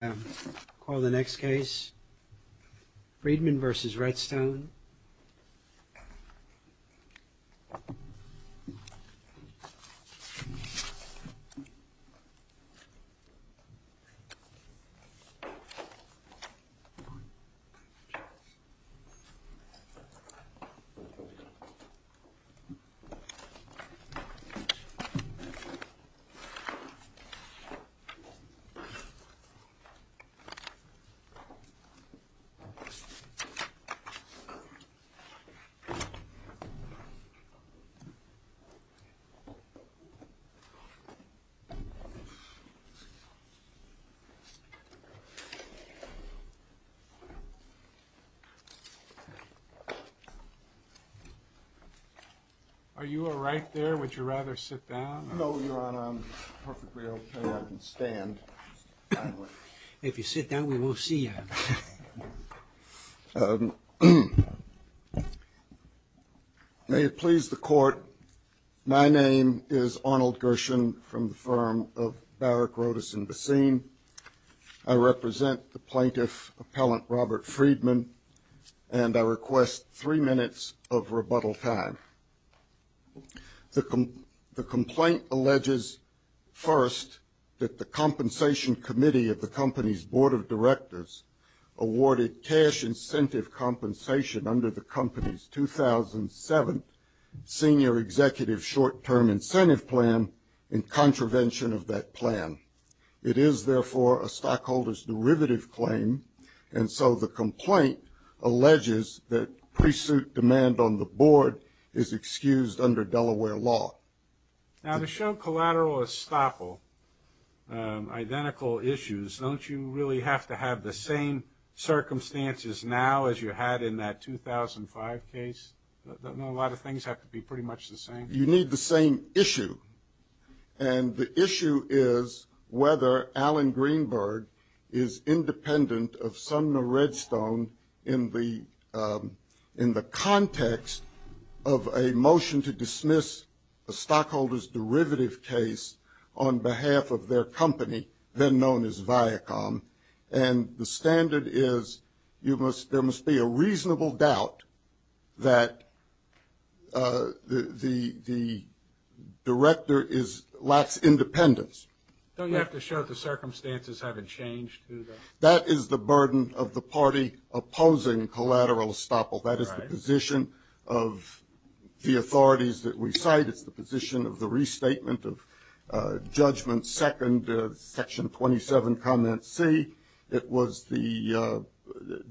I call the next case, Freedman v. Redstone. Are you all right there? Would you rather sit down? No, Your Honor, I'm perfectly okay. I can stand. If you sit down, we won't see you. May it please the Court, my name is Arnold Gershon from the firm of Barrick, Rodas & Bessine. I represent the plaintiff, Appellant Robert Freedman, and I request three minutes of rebuttal time. The complaint alleges first that the Compensation Committee of the company's Board of Directors awarded cash incentive compensation under the company's 2007 Senior Executive Short-Term Incentive Plan in contravention of that plan. It is, therefore, a stockholder's derivative claim, and so the complaint alleges that pre-suit demand on the board is excused under Delaware law. Now, to show collateral estoppel, identical issues, don't you really have to have the same circumstances now as you had in that 2005 case? Don't a lot of things have to be pretty much the same? You need the same issue, and the issue is whether Alan Greenberg is independent of Sumner Redstone in the context of a motion to dismiss a stockholder's derivative case on behalf of their company, then known as Viacom, and the standard is there must be a reasonable doubt that the director lacks independence. Don't you have to show the circumstances haven't changed? That is the burden of the party opposing collateral estoppel. That is the position of the authorities that we cite. It's the position of the restatement of Judgment Second, Section 27, Comment C. It was the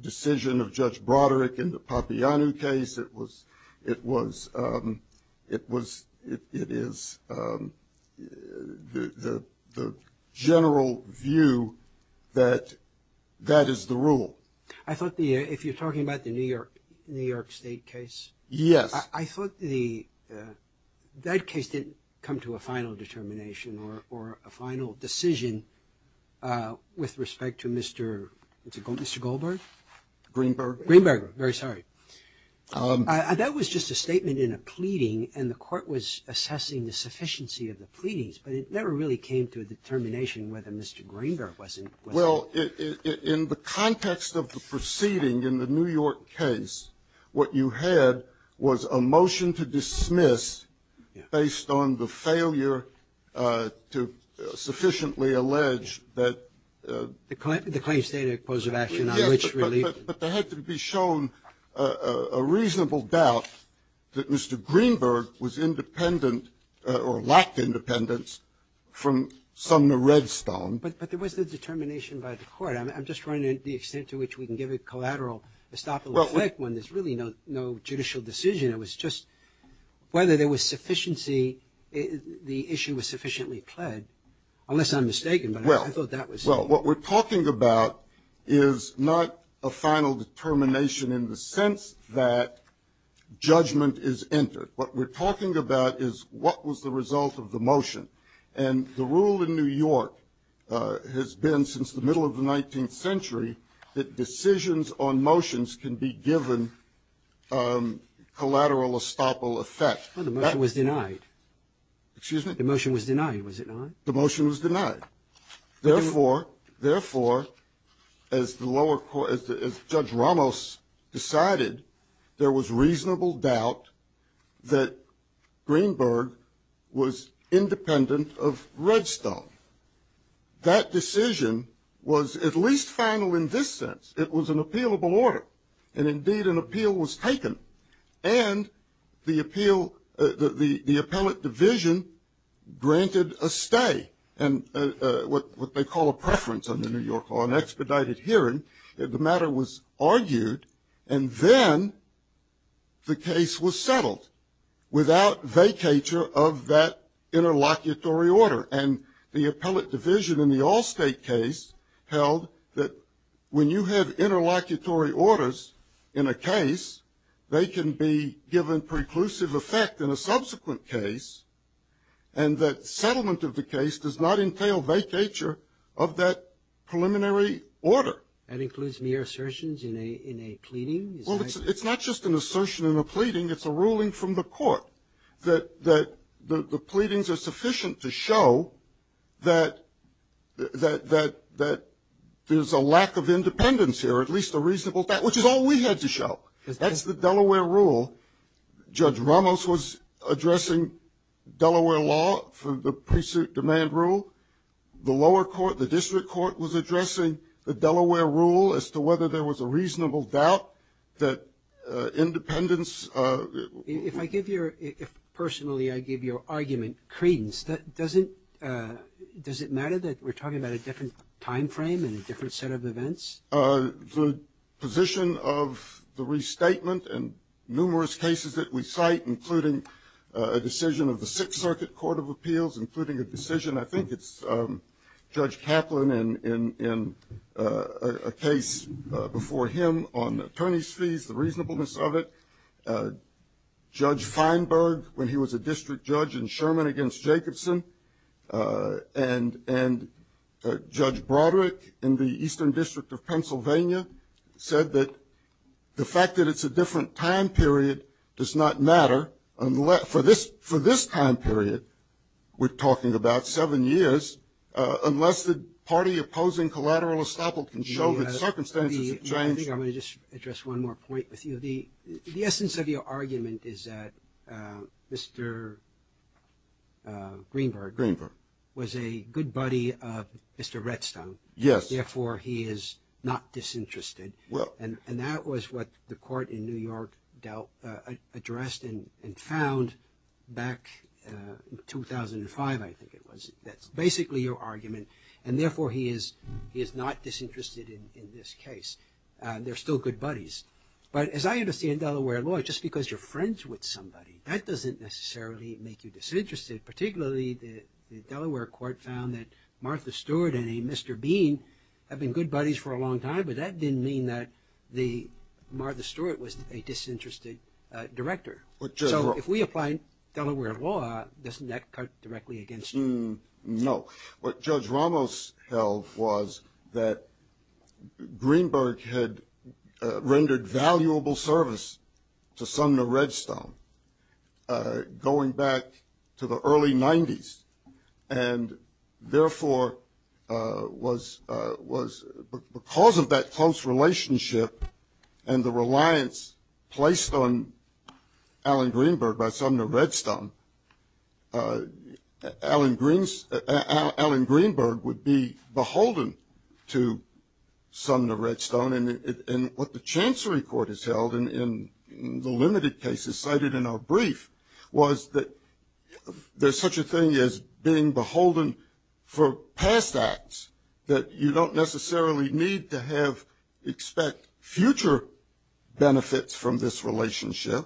decision of Judge Broderick in the Papianu case. It is the general view that that is the rule. I thought if you're talking about the New York State case. Yes. I thought that case didn't come to a final determination or a final decision with respect to Mr. Goldberg? Greenberg. Greenberg, very sorry. That was just a statement in a pleading, and the court was assessing the sufficiency of the pleadings, but it never really came to a determination whether Mr. Greenberg was independent. Well, in the context of the proceeding in the New York case, what you had was a motion to dismiss based on the failure to sufficiently allege that. The claim stated a cause of action on which relief. Yes, but there had to be shown a reasonable doubt that Mr. Greenberg was independent or lacked independence from Sumner Redstone. But there was the determination by the court. I'm just wondering the extent to which we can give a collateral, a stop and reflect one. There's really no judicial decision. It was just whether there was sufficiency, the issue was sufficiently pled, unless I'm mistaken. Well, what we're talking about is not a final determination in the sense that judgment is entered. What we're talking about is what was the result of the motion. And the rule in New York has been since the middle of the 19th century that decisions on motions can be given collateral estoppel effect. Well, the motion was denied. Excuse me? The motion was denied, was it not? The motion was denied. Therefore, as Judge Ramos decided, there was reasonable doubt that Greenberg was independent of Redstone. That decision was at least final in this sense. It was an appealable order, and indeed an appeal was taken. And the appellate division granted a stay. And what they call a preference under New York law, an expedited hearing, the matter was argued, and then the case was settled without vacatur of that interlocutory order. And the appellate division in the Allstate case held that when you have interlocutory orders in a case, they can be given preclusive effect in a subsequent case, and that settlement of the case does not entail vacatur of that preliminary order. That includes mere assertions in a pleading? Well, it's not just an assertion in a pleading. It's a ruling from the court that the pleadings are sufficient to show that there's a lack of independence here, at least a reasonable doubt, which is all we had to show. That's the Delaware rule. Judge Ramos was addressing Delaware law for the pre-suit demand rule. The lower court, the district court, was addressing the Delaware rule as to whether there was a reasonable doubt that independence. If I give your – if personally I give your argument credence, does it matter that we're talking about a different time frame and a different set of events? The position of the restatement in numerous cases that we cite, including a decision of the Sixth Circuit Court of Appeals, including a decision, I think it's Judge Kaplan, in a case before him on attorney's fees, the reasonableness of it. Judge Feinberg, when he was a district judge in Sherman against Jacobson, and Judge Broderick in the Eastern District of Pennsylvania, said that the fact that it's a different time period does not matter for this time period we're talking about, seven years, unless the party opposing collateral estoppel can show that circumstances have changed. I think I'm going to just address one more point with you. The essence of your argument is that Mr. Greenberg was a good buddy of Mr. Redstone. Yes. Therefore, he is not disinterested. And that was what the court in New York addressed and found back in 2005, I think it was. That's basically your argument. And therefore, he is not disinterested in this case. They're still good buddies. But as I understand Delaware law, just because you're friends with somebody, that doesn't necessarily make you disinterested. Particularly, the Delaware court found that Martha Stewart and a Mr. Bean have been good buddies for a long time, but that didn't mean that Martha Stewart was a disinterested director. So if we apply Delaware law, doesn't that cut directly against you? No. What Judge Ramos held was that Greenberg had rendered valuable service to Sumner Redstone going back to the early 90s. And therefore, because of that close relationship and the reliance placed on Alan Greenberg by Sumner Redstone, Alan Greenberg would be beholden to Sumner Redstone. And what the Chancery Court has held in the limited cases cited in our brief was that there's such a thing as being beholden for past acts that you don't necessarily need to have expect future benefits from this relationship.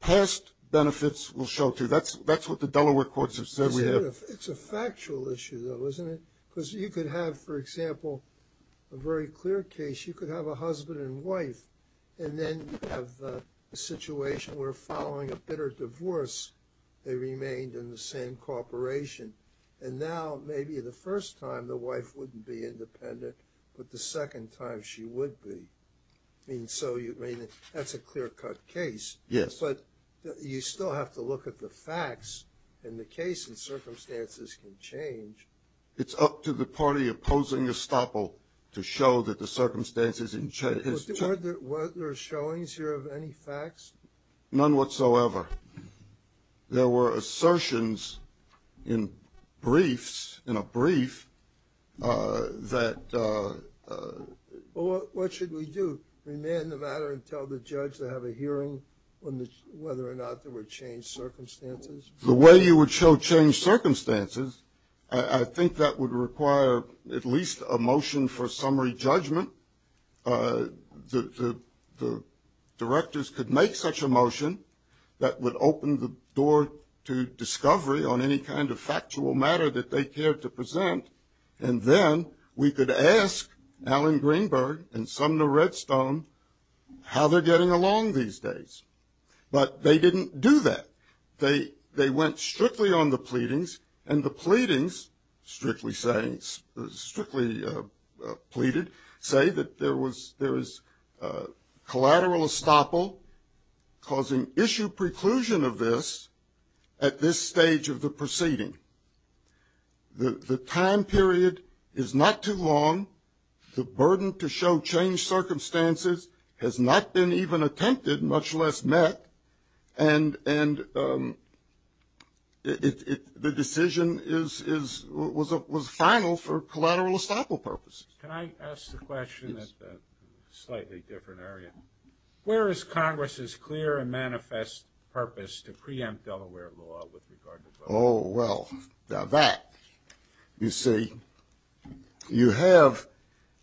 Past benefits will show, too. That's what the Delaware courts have said we have. It's a factual issue, though, isn't it? Because you could have, for example, a very clear case. You could have a husband and wife, and then you have a situation where following a bitter divorce, they remained in the same corporation. And now maybe the first time the wife wouldn't be independent, but the second time she would be. I mean, so that's a clear-cut case. Yes. But you still have to look at the facts, and the case and circumstances can change. It's up to the party opposing estoppel to show that the circumstances have changed. Were there showings here of any facts? None whatsoever. There were assertions in briefs, in a brief, that… Well, what should we do, remand the matter and tell the judge to have a hearing on whether or not there were changed circumstances? The way you would show changed circumstances, I think that would require at least a motion for summary judgment. The directors could make such a motion that would open the door to discovery on any kind of factual matter that they cared to present, and then we could ask Alan Greenberg and Sumner Redstone how they're getting along these days. But they didn't do that. They went strictly on the pleadings, and the pleadings, strictly saying, strictly pleaded, say that there is collateral estoppel causing issue preclusion of this at this stage of the proceeding. The time period is not too long. The burden to show changed circumstances has not been even attempted, much less met, and the decision was final for collateral estoppel purposes. Can I ask the question in a slightly different area? Where is Congress's clear and manifest purpose to preempt Delaware law with regard to both? Oh, well, now that, you see, you have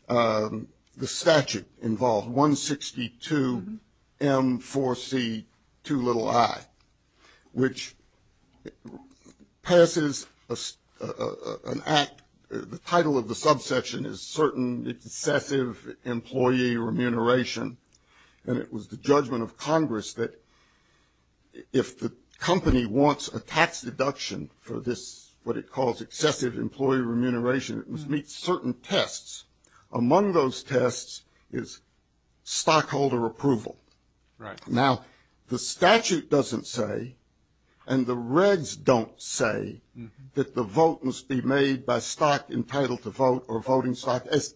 the statute involved, 162M4C2i, which passes an act, the title of the subsection is certain excessive employee remuneration, and it was the judgment of Congress that if the company wants a tax deduction for this, what it calls excessive employee remuneration, it must meet certain tests. Among those tests is stockholder approval. Right. Now, the statute doesn't say, and the regs don't say, that the vote must be made by stock entitled to vote or voting stock, as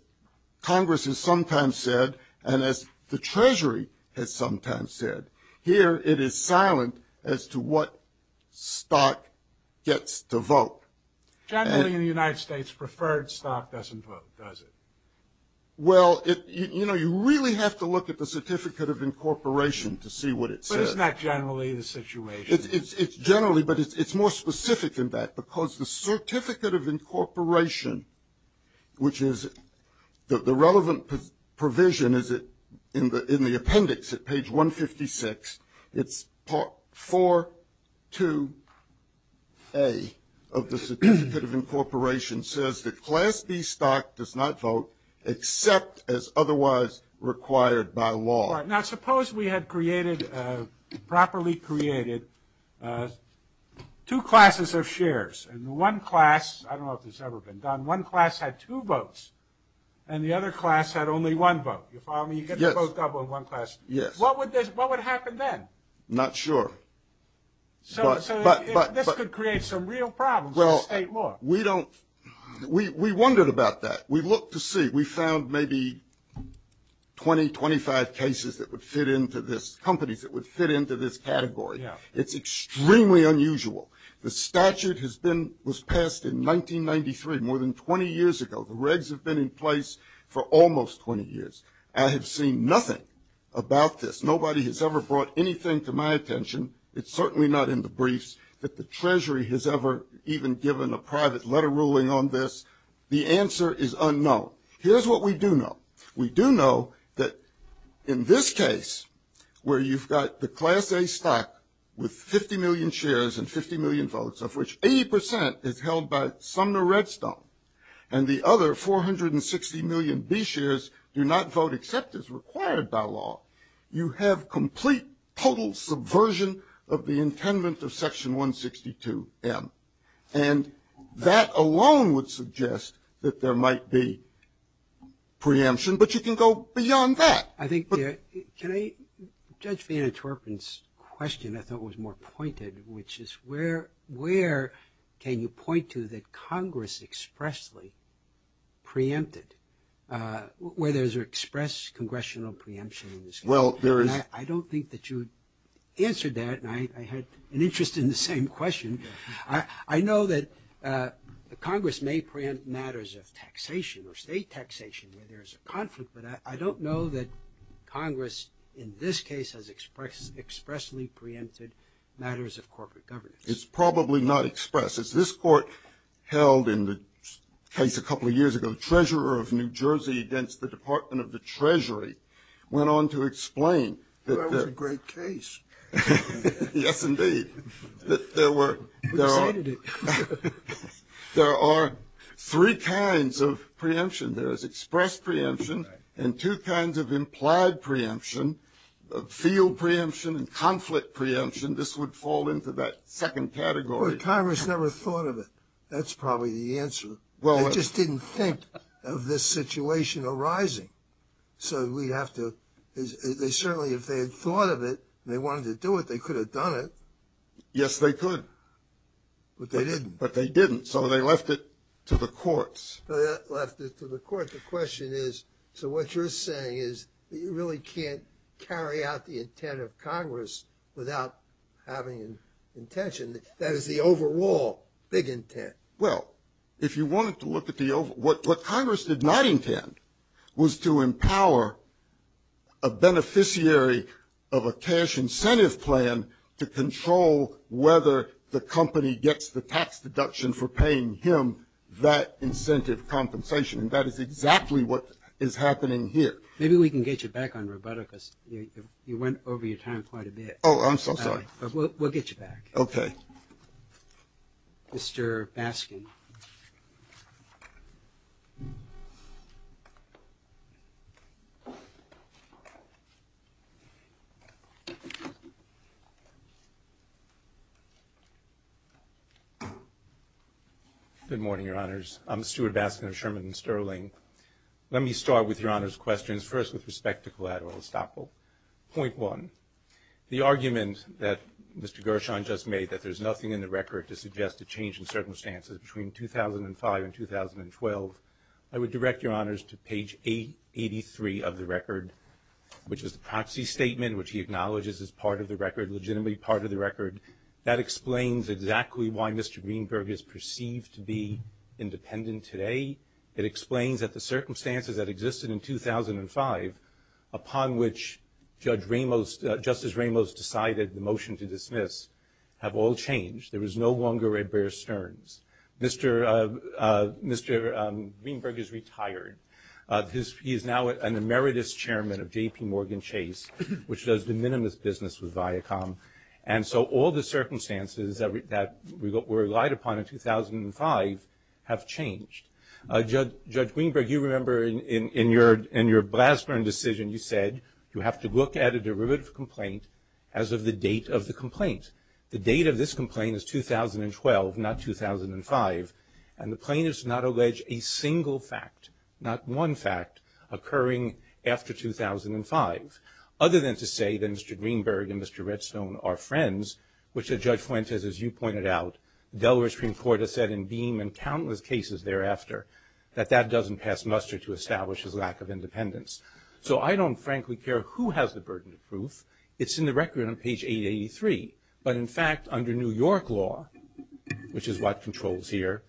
Congress has sometimes said and as the Treasury has sometimes said. Here it is silent as to what stock gets to vote. Generally in the United States, preferred stock doesn't vote, does it? Well, you know, you really have to look at the certificate of incorporation to see what it says. But isn't that generally the situation? It's generally, but it's more specific than that, because the certificate of incorporation, which is the relevant provision is in the appendix at page 156. It's 4-2-A of the certificate of incorporation says that Class B stock does not vote, except as otherwise required by law. Now, suppose we had created, properly created, two classes of shares, and one class, I don't know if this has ever been done, one class had two votes, and the other class had only one vote. You follow me? Yes. You get the vote double in one class. Yes. What would happen then? Not sure. So this could create some real problems in state law. Well, we don't, we wondered about that. We looked to see. We found maybe 20, 25 cases that would fit into this, companies that would fit into this category. It's extremely unusual. The statute has been, was passed in 1993, more than 20 years ago. The regs have been in place for almost 20 years. I have seen nothing about this. Nobody has ever brought anything to my attention. It's certainly not in the briefs that the Treasury has ever even given a private letter ruling on this. The answer is unknown. Here's what we do know. We do know that in this case, where you've got the Class A stock with 50 million shares and 50 million votes, of which 80% is held by Sumner Redstone, and the other 460 million B shares do not vote except as required by law, you have complete total subversion of the intendant of Section 162M. And that alone would suggest that there might be preemption. But you can go beyond that. I think there, can I, Judge Van Atterpen's question I thought was more pointed, which is where can you point to that Congress expressly preempted, where there's an express congressional preemption in this case? Well, there is. I don't think that you answered that, and I had an interest in the same question. I know that Congress may preempt matters of taxation or state taxation where there's a conflict, but I don't know that Congress in this case has expressly preempted matters of corporate governance. It's probably not expressed. As this Court held in the case a couple of years ago, Treasurer of New Jersey against the Department of the Treasury went on to explain. That was a great case. Yes, indeed. We cited it. There are three kinds of preemption. There is express preemption and two kinds of implied preemption, field preemption and conflict preemption. This would fall into that second category. Well, Congress never thought of it. That's probably the answer. They just didn't think of this situation arising. So we have to, they certainly, if they had thought of it and they wanted to do it, they could have done it. Yes, they could. But they didn't. But they didn't. So they left it to the courts. Left it to the court. The question is, so what you're saying is that you really can't carry out the intent of Congress without having intention. That is the overall big intent. Well, if you wanted to look at the overall, what Congress did not intend was to empower a beneficiary of a cash incentive plan to control whether the company gets the tax deduction for paying him that incentive compensation. And that is exactly what is happening here. Maybe we can get you back on Roberta because you went over your time quite a bit. Oh, I'm so sorry. We'll get you back. Okay. Mr. Baskin. Good morning, Your Honors. I'm Stuart Baskin of Sherman & Sterling. Let me start with Your Honor's questions, first with respect to collateral estoppel. Point one. The argument that Mr. Gershon just made that there's nothing in the record to suggest a change in circumstances between 2005 and 2012, I would direct Your Honors to page 83 of the record, which is the proxy statement, which he acknowledges is part of the record, legitimately part of the record. That explains exactly why Mr. Greenberg is perceived to be independent today. It explains that the circumstances that existed in 2005, upon which Judge Ramos, Justice Ramos decided the motion to dismiss, have all changed. There is no longer Ed Bear Stearns. Mr. Greenberg is retired. He is now an emeritus chairman of JPMorgan Chase, which does de minimis business with Viacom. And so all the circumstances that were relied upon in 2005 have changed. Judge Greenberg, you remember in your Blassburn decision you said, you have to look at a derivative complaint as of the date of the complaint. The date of this complaint is 2012, not 2005. And the plaintiff does not allege a single fact, not one fact, occurring after 2005, other than to say that Mr. Greenberg and Mr. Redstone are friends, which Judge Fuentes, as you pointed out, Delaware Supreme Court has said in beam and countless cases thereafter, that that doesn't pass muster to establish his lack of independence. So I don't frankly care who has the burden of proof. It's in the record on page 883. But, in fact, under New York law, which is what controls here,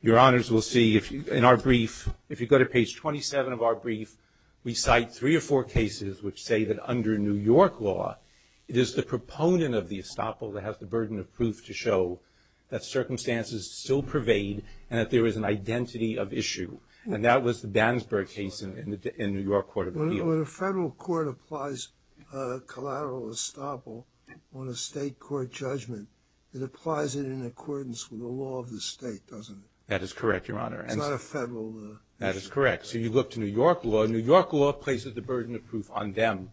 Your Honors will see in our brief, if you go to page 27 of our brief, we cite three or four cases which say that under New York law, it is the proponent of the estoppel that has the burden of proof to show that circumstances still pervade and that there is an identity of issue. And that was the Bandsberg case in New York Court of Appeal. When a federal court applies collateral estoppel on a state court judgment, it applies it in accordance with the law of the state, doesn't it? That is correct, Your Honor. It's not a federal issue. That is correct. So you look to New York law. New York law places the burden of proof on them.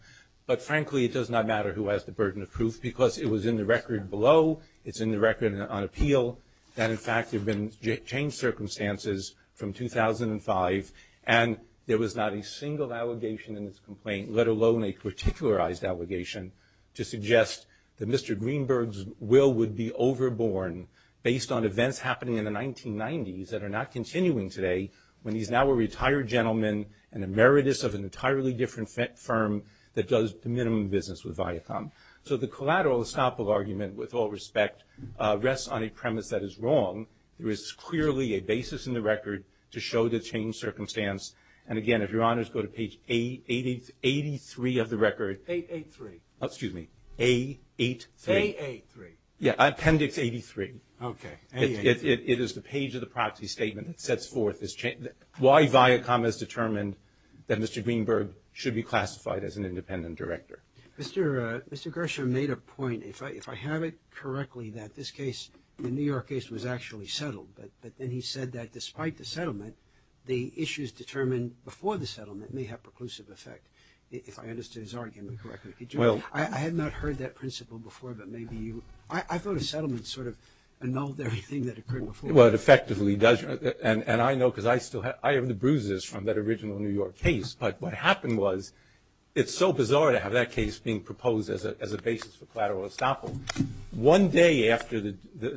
But, frankly, it does not matter who has the burden of proof, because it was in the record below. It's in the record on appeal. And, in fact, there have been changed circumstances from 2005. And there was not a single allegation in this complaint, let alone a particularized allegation, to suggest that Mr. Greenberg's will would be overborne based on events happening in the 1990s that are not continuing today, when he's now a retired gentleman and emeritus of an entirely different firm that does minimum business with Viacom. So the collateral estoppel argument, with all respect, rests on a premise that is wrong. There is clearly a basis in the record to show the changed circumstance. And, again, if Your Honors go to page 883 of the record. 883. Oh, excuse me, A83. AA3. Yeah, Appendix 83. Okay. It is the page of the proxy statement that sets forth why Viacom has determined that Mr. Greenberg should be classified as an independent director. Mr. Gershom made a point, if I have it correctly, that this case, the New York case, was actually settled. But then he said that despite the settlement, the issues determined before the settlement may have preclusive effect, if I understood his argument correctly. I had not heard that principle before, but maybe you. I thought a settlement sort of annulled everything that occurred before. Well, it effectively does. And I know because I still have the bruises from that original New York case. But what happened was it's so bizarre to have that case being proposed as a basis for collateral estoppel. One day after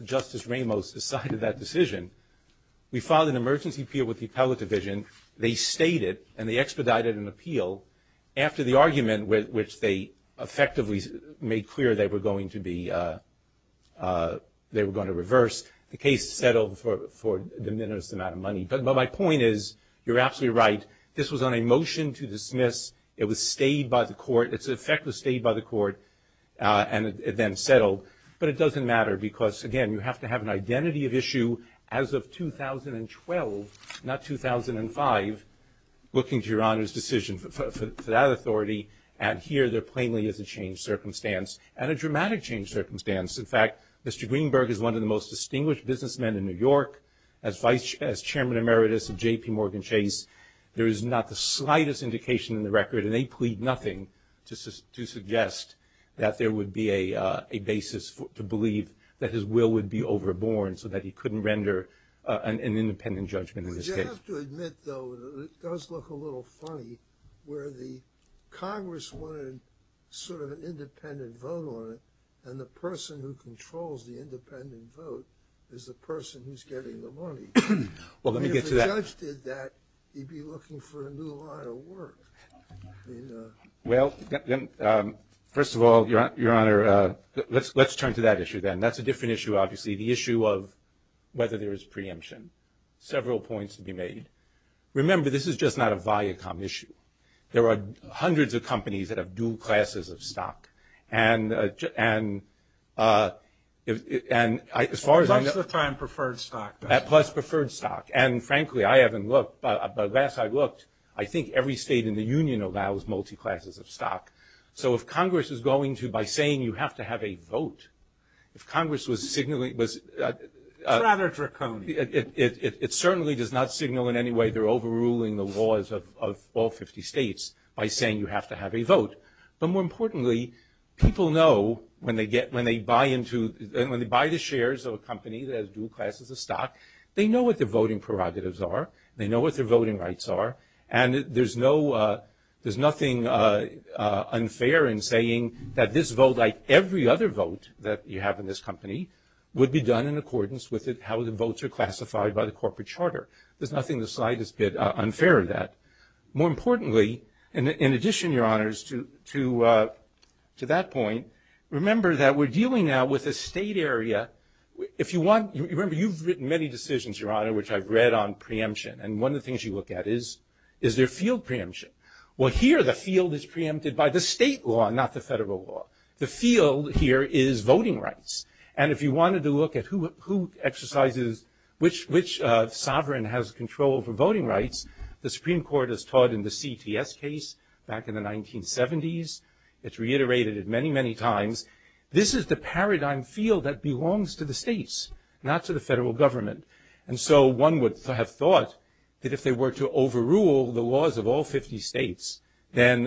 Justice Ramos decided that decision, we filed an emergency appeal with the appellate division. They stated and they expedited an appeal after the argument, which they effectively made clear they were going to reverse. The case settled for a deminerous amount of money. But my point is you're absolutely right. This was on a motion to dismiss. It was stayed by the court. Its effect was stayed by the court, and it then settled. But it doesn't matter because, again, you have to have an identity of issue as of 2012, not 2005, looking to Your Honor's decision for that authority, and here there plainly is a changed circumstance, and a dramatic changed circumstance. In fact, Mr. Greenberg is one of the most distinguished businessmen in New York. As Chairman Emeritus of JPMorgan Chase, there is not the slightest indication in the record, and they plead nothing to suggest that there would be a basis to believe that his will would be overborne so that he couldn't render an independent judgment in this case. Would you have to admit, though, it does look a little funny, where the Congress wanted sort of an independent vote on it, and the person who controls the independent vote is the person who's getting the money. Well, let me get to that. I mean, if the judge did that, he'd be looking for a new line of work. Well, first of all, Your Honor, let's turn to that issue then. That's a different issue, obviously, the issue of whether there is preemption. Several points to be made. Remember, this is just not a Viacom issue. There are hundreds of companies that have dual classes of stock. And as far as I know. Plus the prime preferred stock. Plus preferred stock. And, frankly, I haven't looked, but last I looked, I think every state in the union allows multi-classes of stock. So if Congress is going to, by saying you have to have a vote, if Congress was It's rather draconian. It certainly does not signal in any way they're overruling the laws of all 50 states by saying you have to have a vote. But more importantly, people know when they buy the shares of a company that has dual classes of stock, they know what their voting prerogatives are. They know what their voting rights are. And there's nothing unfair in saying that this vote, like every other vote that you have in this company, would be done in accordance with how the votes are classified by the corporate charter. There's nothing the slightest bit unfair in that. More importantly, in addition, Your Honors, to that point, remember that we're dealing now with a state area. If you want, remember you've written many decisions, Your Honor, which I've read on preemption. And one of the things you look at is, is there field preemption? Well, here the field is preempted by the state law, not the federal law. The field here is voting rights. And if you wanted to look at who exercises, which sovereign has control over voting rights, the Supreme Court has taught in the CTS case back in the 1970s. It's reiterated many, many times. This is the paradigm field that belongs to the states, not to the federal government. And so one would have thought that if they were to overrule the laws of all 50 states, then,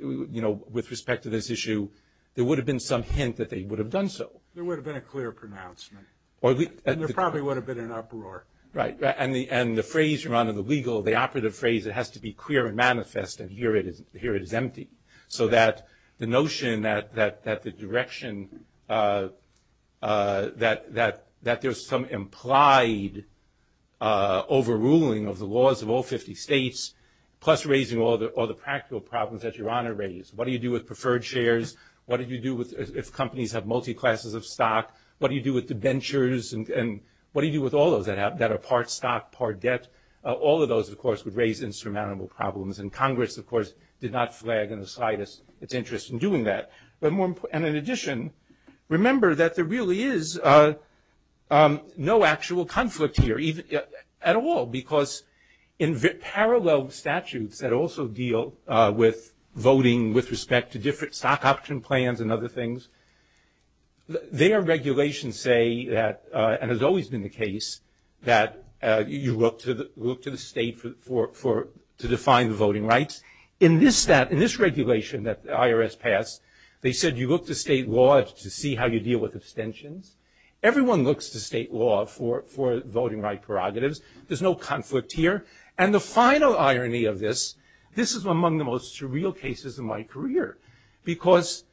you know, with respect to this issue, there would have been some hint that they would have done so. There would have been a clear pronouncement. There probably would have been an uproar. Right. And the phrase, Your Honor, the legal, the operative phrase, it has to be clear and manifest. And here it is empty. So that the notion that the direction, that there's some implied overruling of the laws of all 50 states, plus raising all the practical problems that Your Honor raised. What do you do with preferred shares? What do you do if companies have multi-classes of stock? What do you do with debentures? And what do you do with all those that are part stock, part debt? All of those, of course, would raise insurmountable problems. And Congress, of course, did not flag in the slightest its interest in doing that. And in addition, remember that there really is no actual conflict here at all, because in parallel statutes that also deal with voting with respect to different stock option plans and other things, their regulations say that, and has always been the case, that you look to the state to define the voting rights. In this regulation that the IRS passed, they said you look to state law to see how you deal with abstentions. Everyone looks to state law for voting right prerogatives. There's no conflict here. And the final irony of this, this is among the most surreal cases in my career, because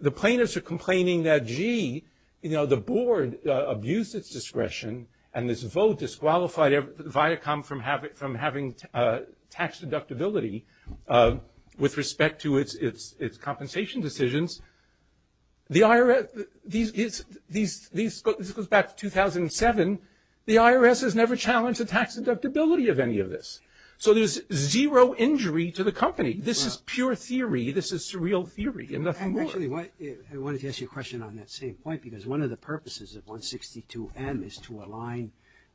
the plaintiffs are complaining that, gee, you know, the board abused its discretion, and this vote disqualified Viacom from having tax deductibility with respect to its compensation decisions. This goes back to 2007. The IRS has never challenged the tax deductibility of any of this. So there's zero injury to the company. This is pure theory. This is surreal theory and nothing more. Actually, I wanted to ask you a question on that same point, because one of the purposes of 162M is to align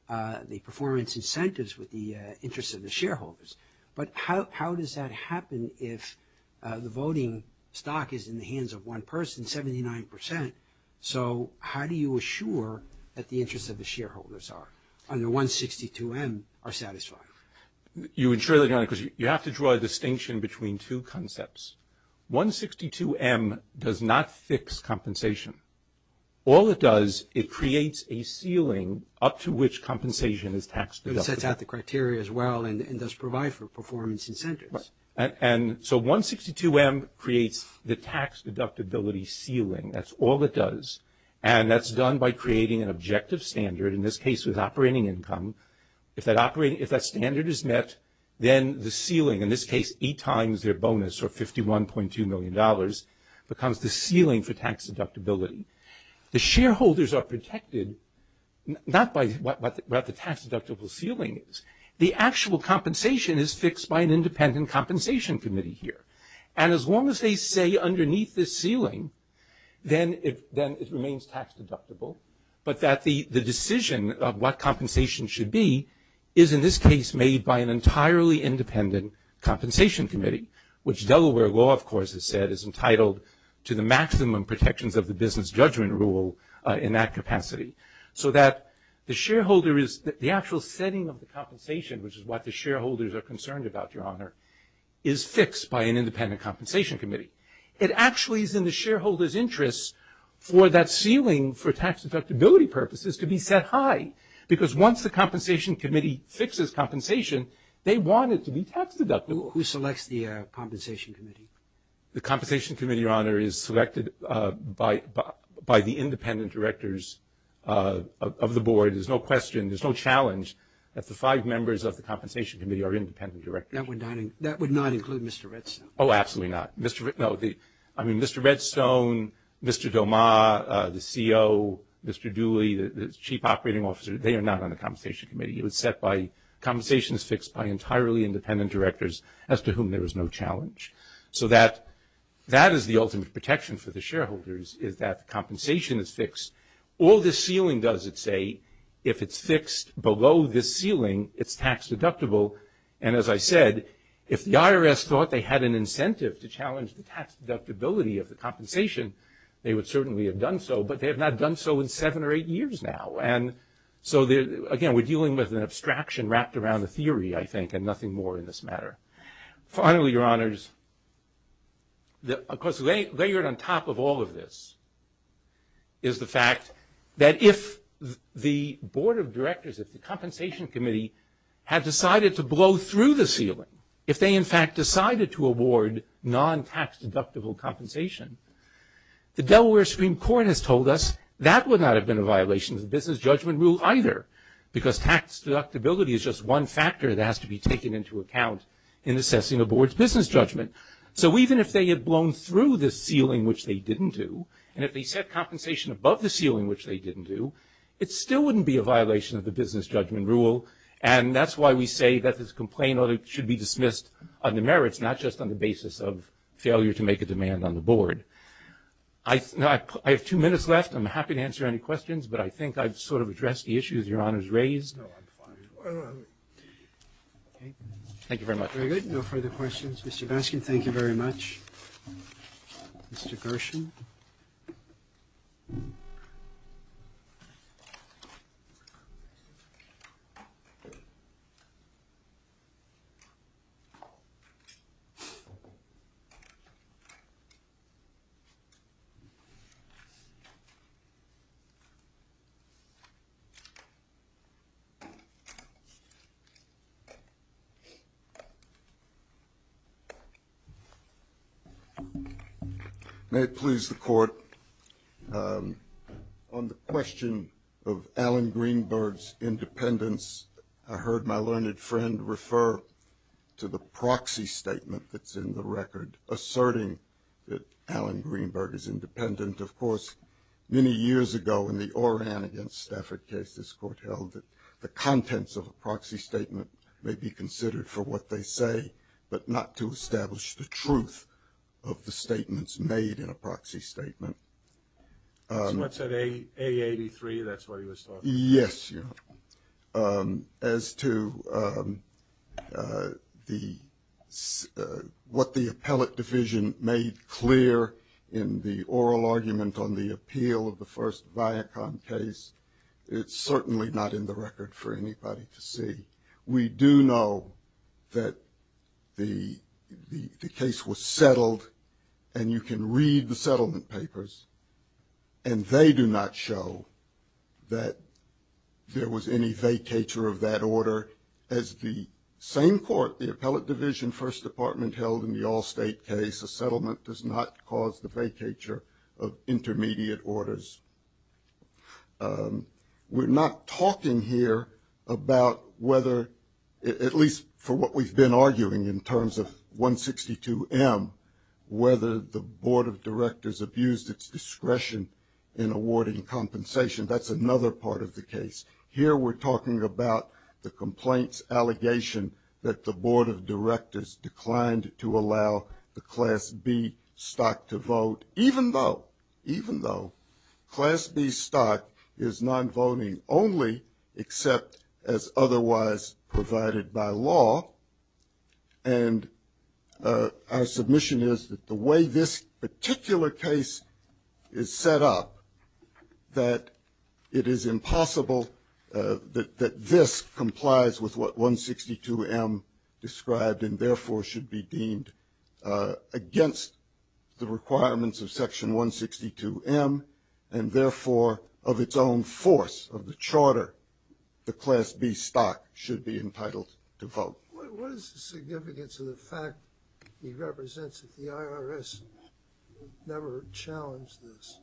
the performance incentives with the interests of the shareholders. But how does that happen if the voting stock is in the hands of one person, 79 percent? So how do you assure that the interests of the shareholders are, under 162M, are satisfied? You would surely not, because you have to draw a distinction between two concepts. 162M does not fix compensation. All it does, it creates a ceiling up to which compensation is tax deductible. It sets out the criteria as well and does provide for performance incentives. And so 162M creates the tax deductibility ceiling. That's all it does. And that's done by creating an objective standard, in this case with operating income. If that standard is met, then the ceiling, in this case eight times their bonus, or $51.2 million, becomes the ceiling for tax deductibility. The shareholders are protected not by what the tax deductible ceiling is. The actual compensation is fixed by an independent compensation committee here. And as long as they stay underneath this ceiling, then it remains tax deductible. But that the decision of what compensation should be is, in this case, made by an entirely independent compensation committee, which Delaware law, of course, has said, is entitled to the maximum protections of the business judgment rule in that capacity. So that the shareholder is, the actual setting of the compensation, which is what the shareholders are concerned about, Your Honor, is fixed by an independent compensation committee. It actually is in the shareholder's interest for that ceiling, for tax deductibility purposes, to be set high. Because once the compensation committee fixes compensation, they want it to be tax deductible. Who selects the compensation committee? The compensation committee, Your Honor, is selected by the independent directors of the board. There's no question, there's no challenge, that the five members of the compensation committee are independent directors. That would not include Mr. Redstone. Oh, absolutely not. I mean, Mr. Redstone, Mr. Doma, the CO, Mr. Dooley, the chief operating officer, they are not on the compensation committee. It was set by, compensation is fixed by entirely independent directors, as to whom there is no challenge. So that is the ultimate protection for the shareholders, is that the compensation is fixed. All this ceiling does, it say, if it's fixed below this ceiling, it's tax deductible. And as I said, if the IRS thought they had an incentive to challenge the tax deductibility of the compensation, they would certainly have done so. But they have not done so in seven or eight years now. And so, again, we're dealing with an abstraction wrapped around a theory, I think, and nothing more in this matter. Finally, Your Honors, of course, layered on top of all of this is the fact that if the board of directors, if the compensation committee had decided to blow through the ceiling, if they in fact decided to award non-tax deductible compensation, the Delaware Supreme Court has told us that would not have been a violation of the business judgment rule either, because tax deductibility is just one factor that has to be taken into account in assessing a board's business judgment. So even if they had blown through this ceiling, which they didn't do, and if they set compensation above the ceiling, which they didn't do, it still wouldn't be a violation of the business judgment rule. And that's why we say that this complaint should be dismissed on the merits, not just on the basis of failure to make a demand on the board. I have two minutes left. I'm happy to answer any questions, but I think I've sort of addressed the issues Your Honors raised. Thank you very much. Very good. No further questions. Mr. Baskin, thank you very much. Mr. Gershon. May it please the court. On the question of Alan Greenberg's independence, I heard my learned friend refer to the proxy statement that's in the record asserting that Alan Greenberg is independent. Of course, many years ago in the Oran against Stafford case, this court held that the contents of a proxy statement may be considered for what they say, but not to establish the truth of the statements made in a proxy statement. So it's at A83, that's what he was talking about? Yes, Your Honor. As to what the appellate division made clear in the oral argument on the appeal of the first Viacom case, it's certainly not in the record for anybody to see. We do know that the case was settled, and you can read the settlement papers, and they do not show that there was any vacatur of that order as the same court, the appellate division first department held in the Allstate case, a settlement does not cause the vacatur of intermediate orders. We're not talking here about whether, at least for what we've been arguing in terms of 162M, whether the Board of Directors abused its discretion in awarding compensation. That's another part of the case. Here we're talking about the complaints allegation that the Board of Directors declined to allow the Class B stock to vote, even though Class B stock is non-voting only except as otherwise provided by law, and our submission is that the way this particular case is set up, that it is impossible that this complies with what 162M described and therefore should be deemed against the requirements of Section 162M, and therefore of its own force of the charter, the Class B stock should be entitled to vote. What is the significance of the fact that he represents that the IRS never challenged this?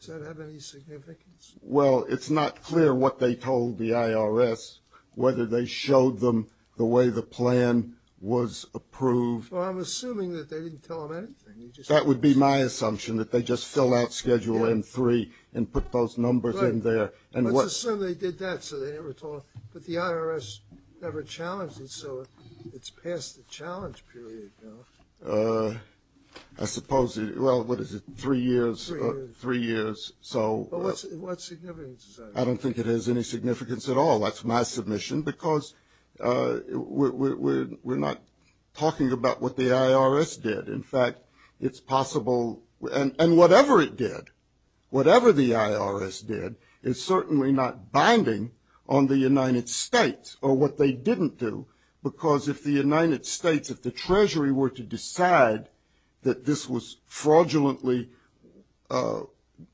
Does that have any significance? Well, it's not clear what they told the IRS, whether they showed them the way the plan was approved. Well, I'm assuming that they didn't tell them anything. That would be my assumption, that they just fill out Schedule M-3 and put those numbers in there. Let's assume they did that so they never told them, but the IRS never challenged it, so it's past the challenge period now. I suppose, well, what is it, three years? Three years. Well, what significance is that? I don't think it has any significance at all. That's my submission, because we're not talking about what the IRS did. In fact, it's possible, and whatever it did, whatever the IRS did, is certainly not binding on the United States or what they didn't do, because if the United States, if the Treasury were to decide that this was fraudulently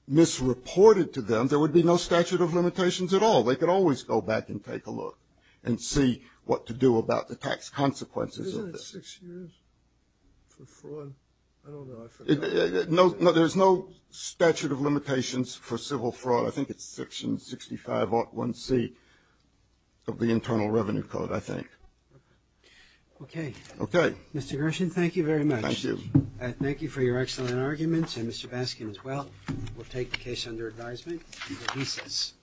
misreported to them, there would be no statute of limitations at all. They could always go back and take a look and see what to do about the tax consequences of this. Isn't it six years for fraud? I don't know. There's no statute of limitations for civil fraud. I think it's Section 65.1c of the Internal Revenue Code, I think. Okay. Okay. Mr. Gershon, thank you very much. Thank you. Thank you for your excellent arguments, and Mr. Baskin as well. The case is dismissed.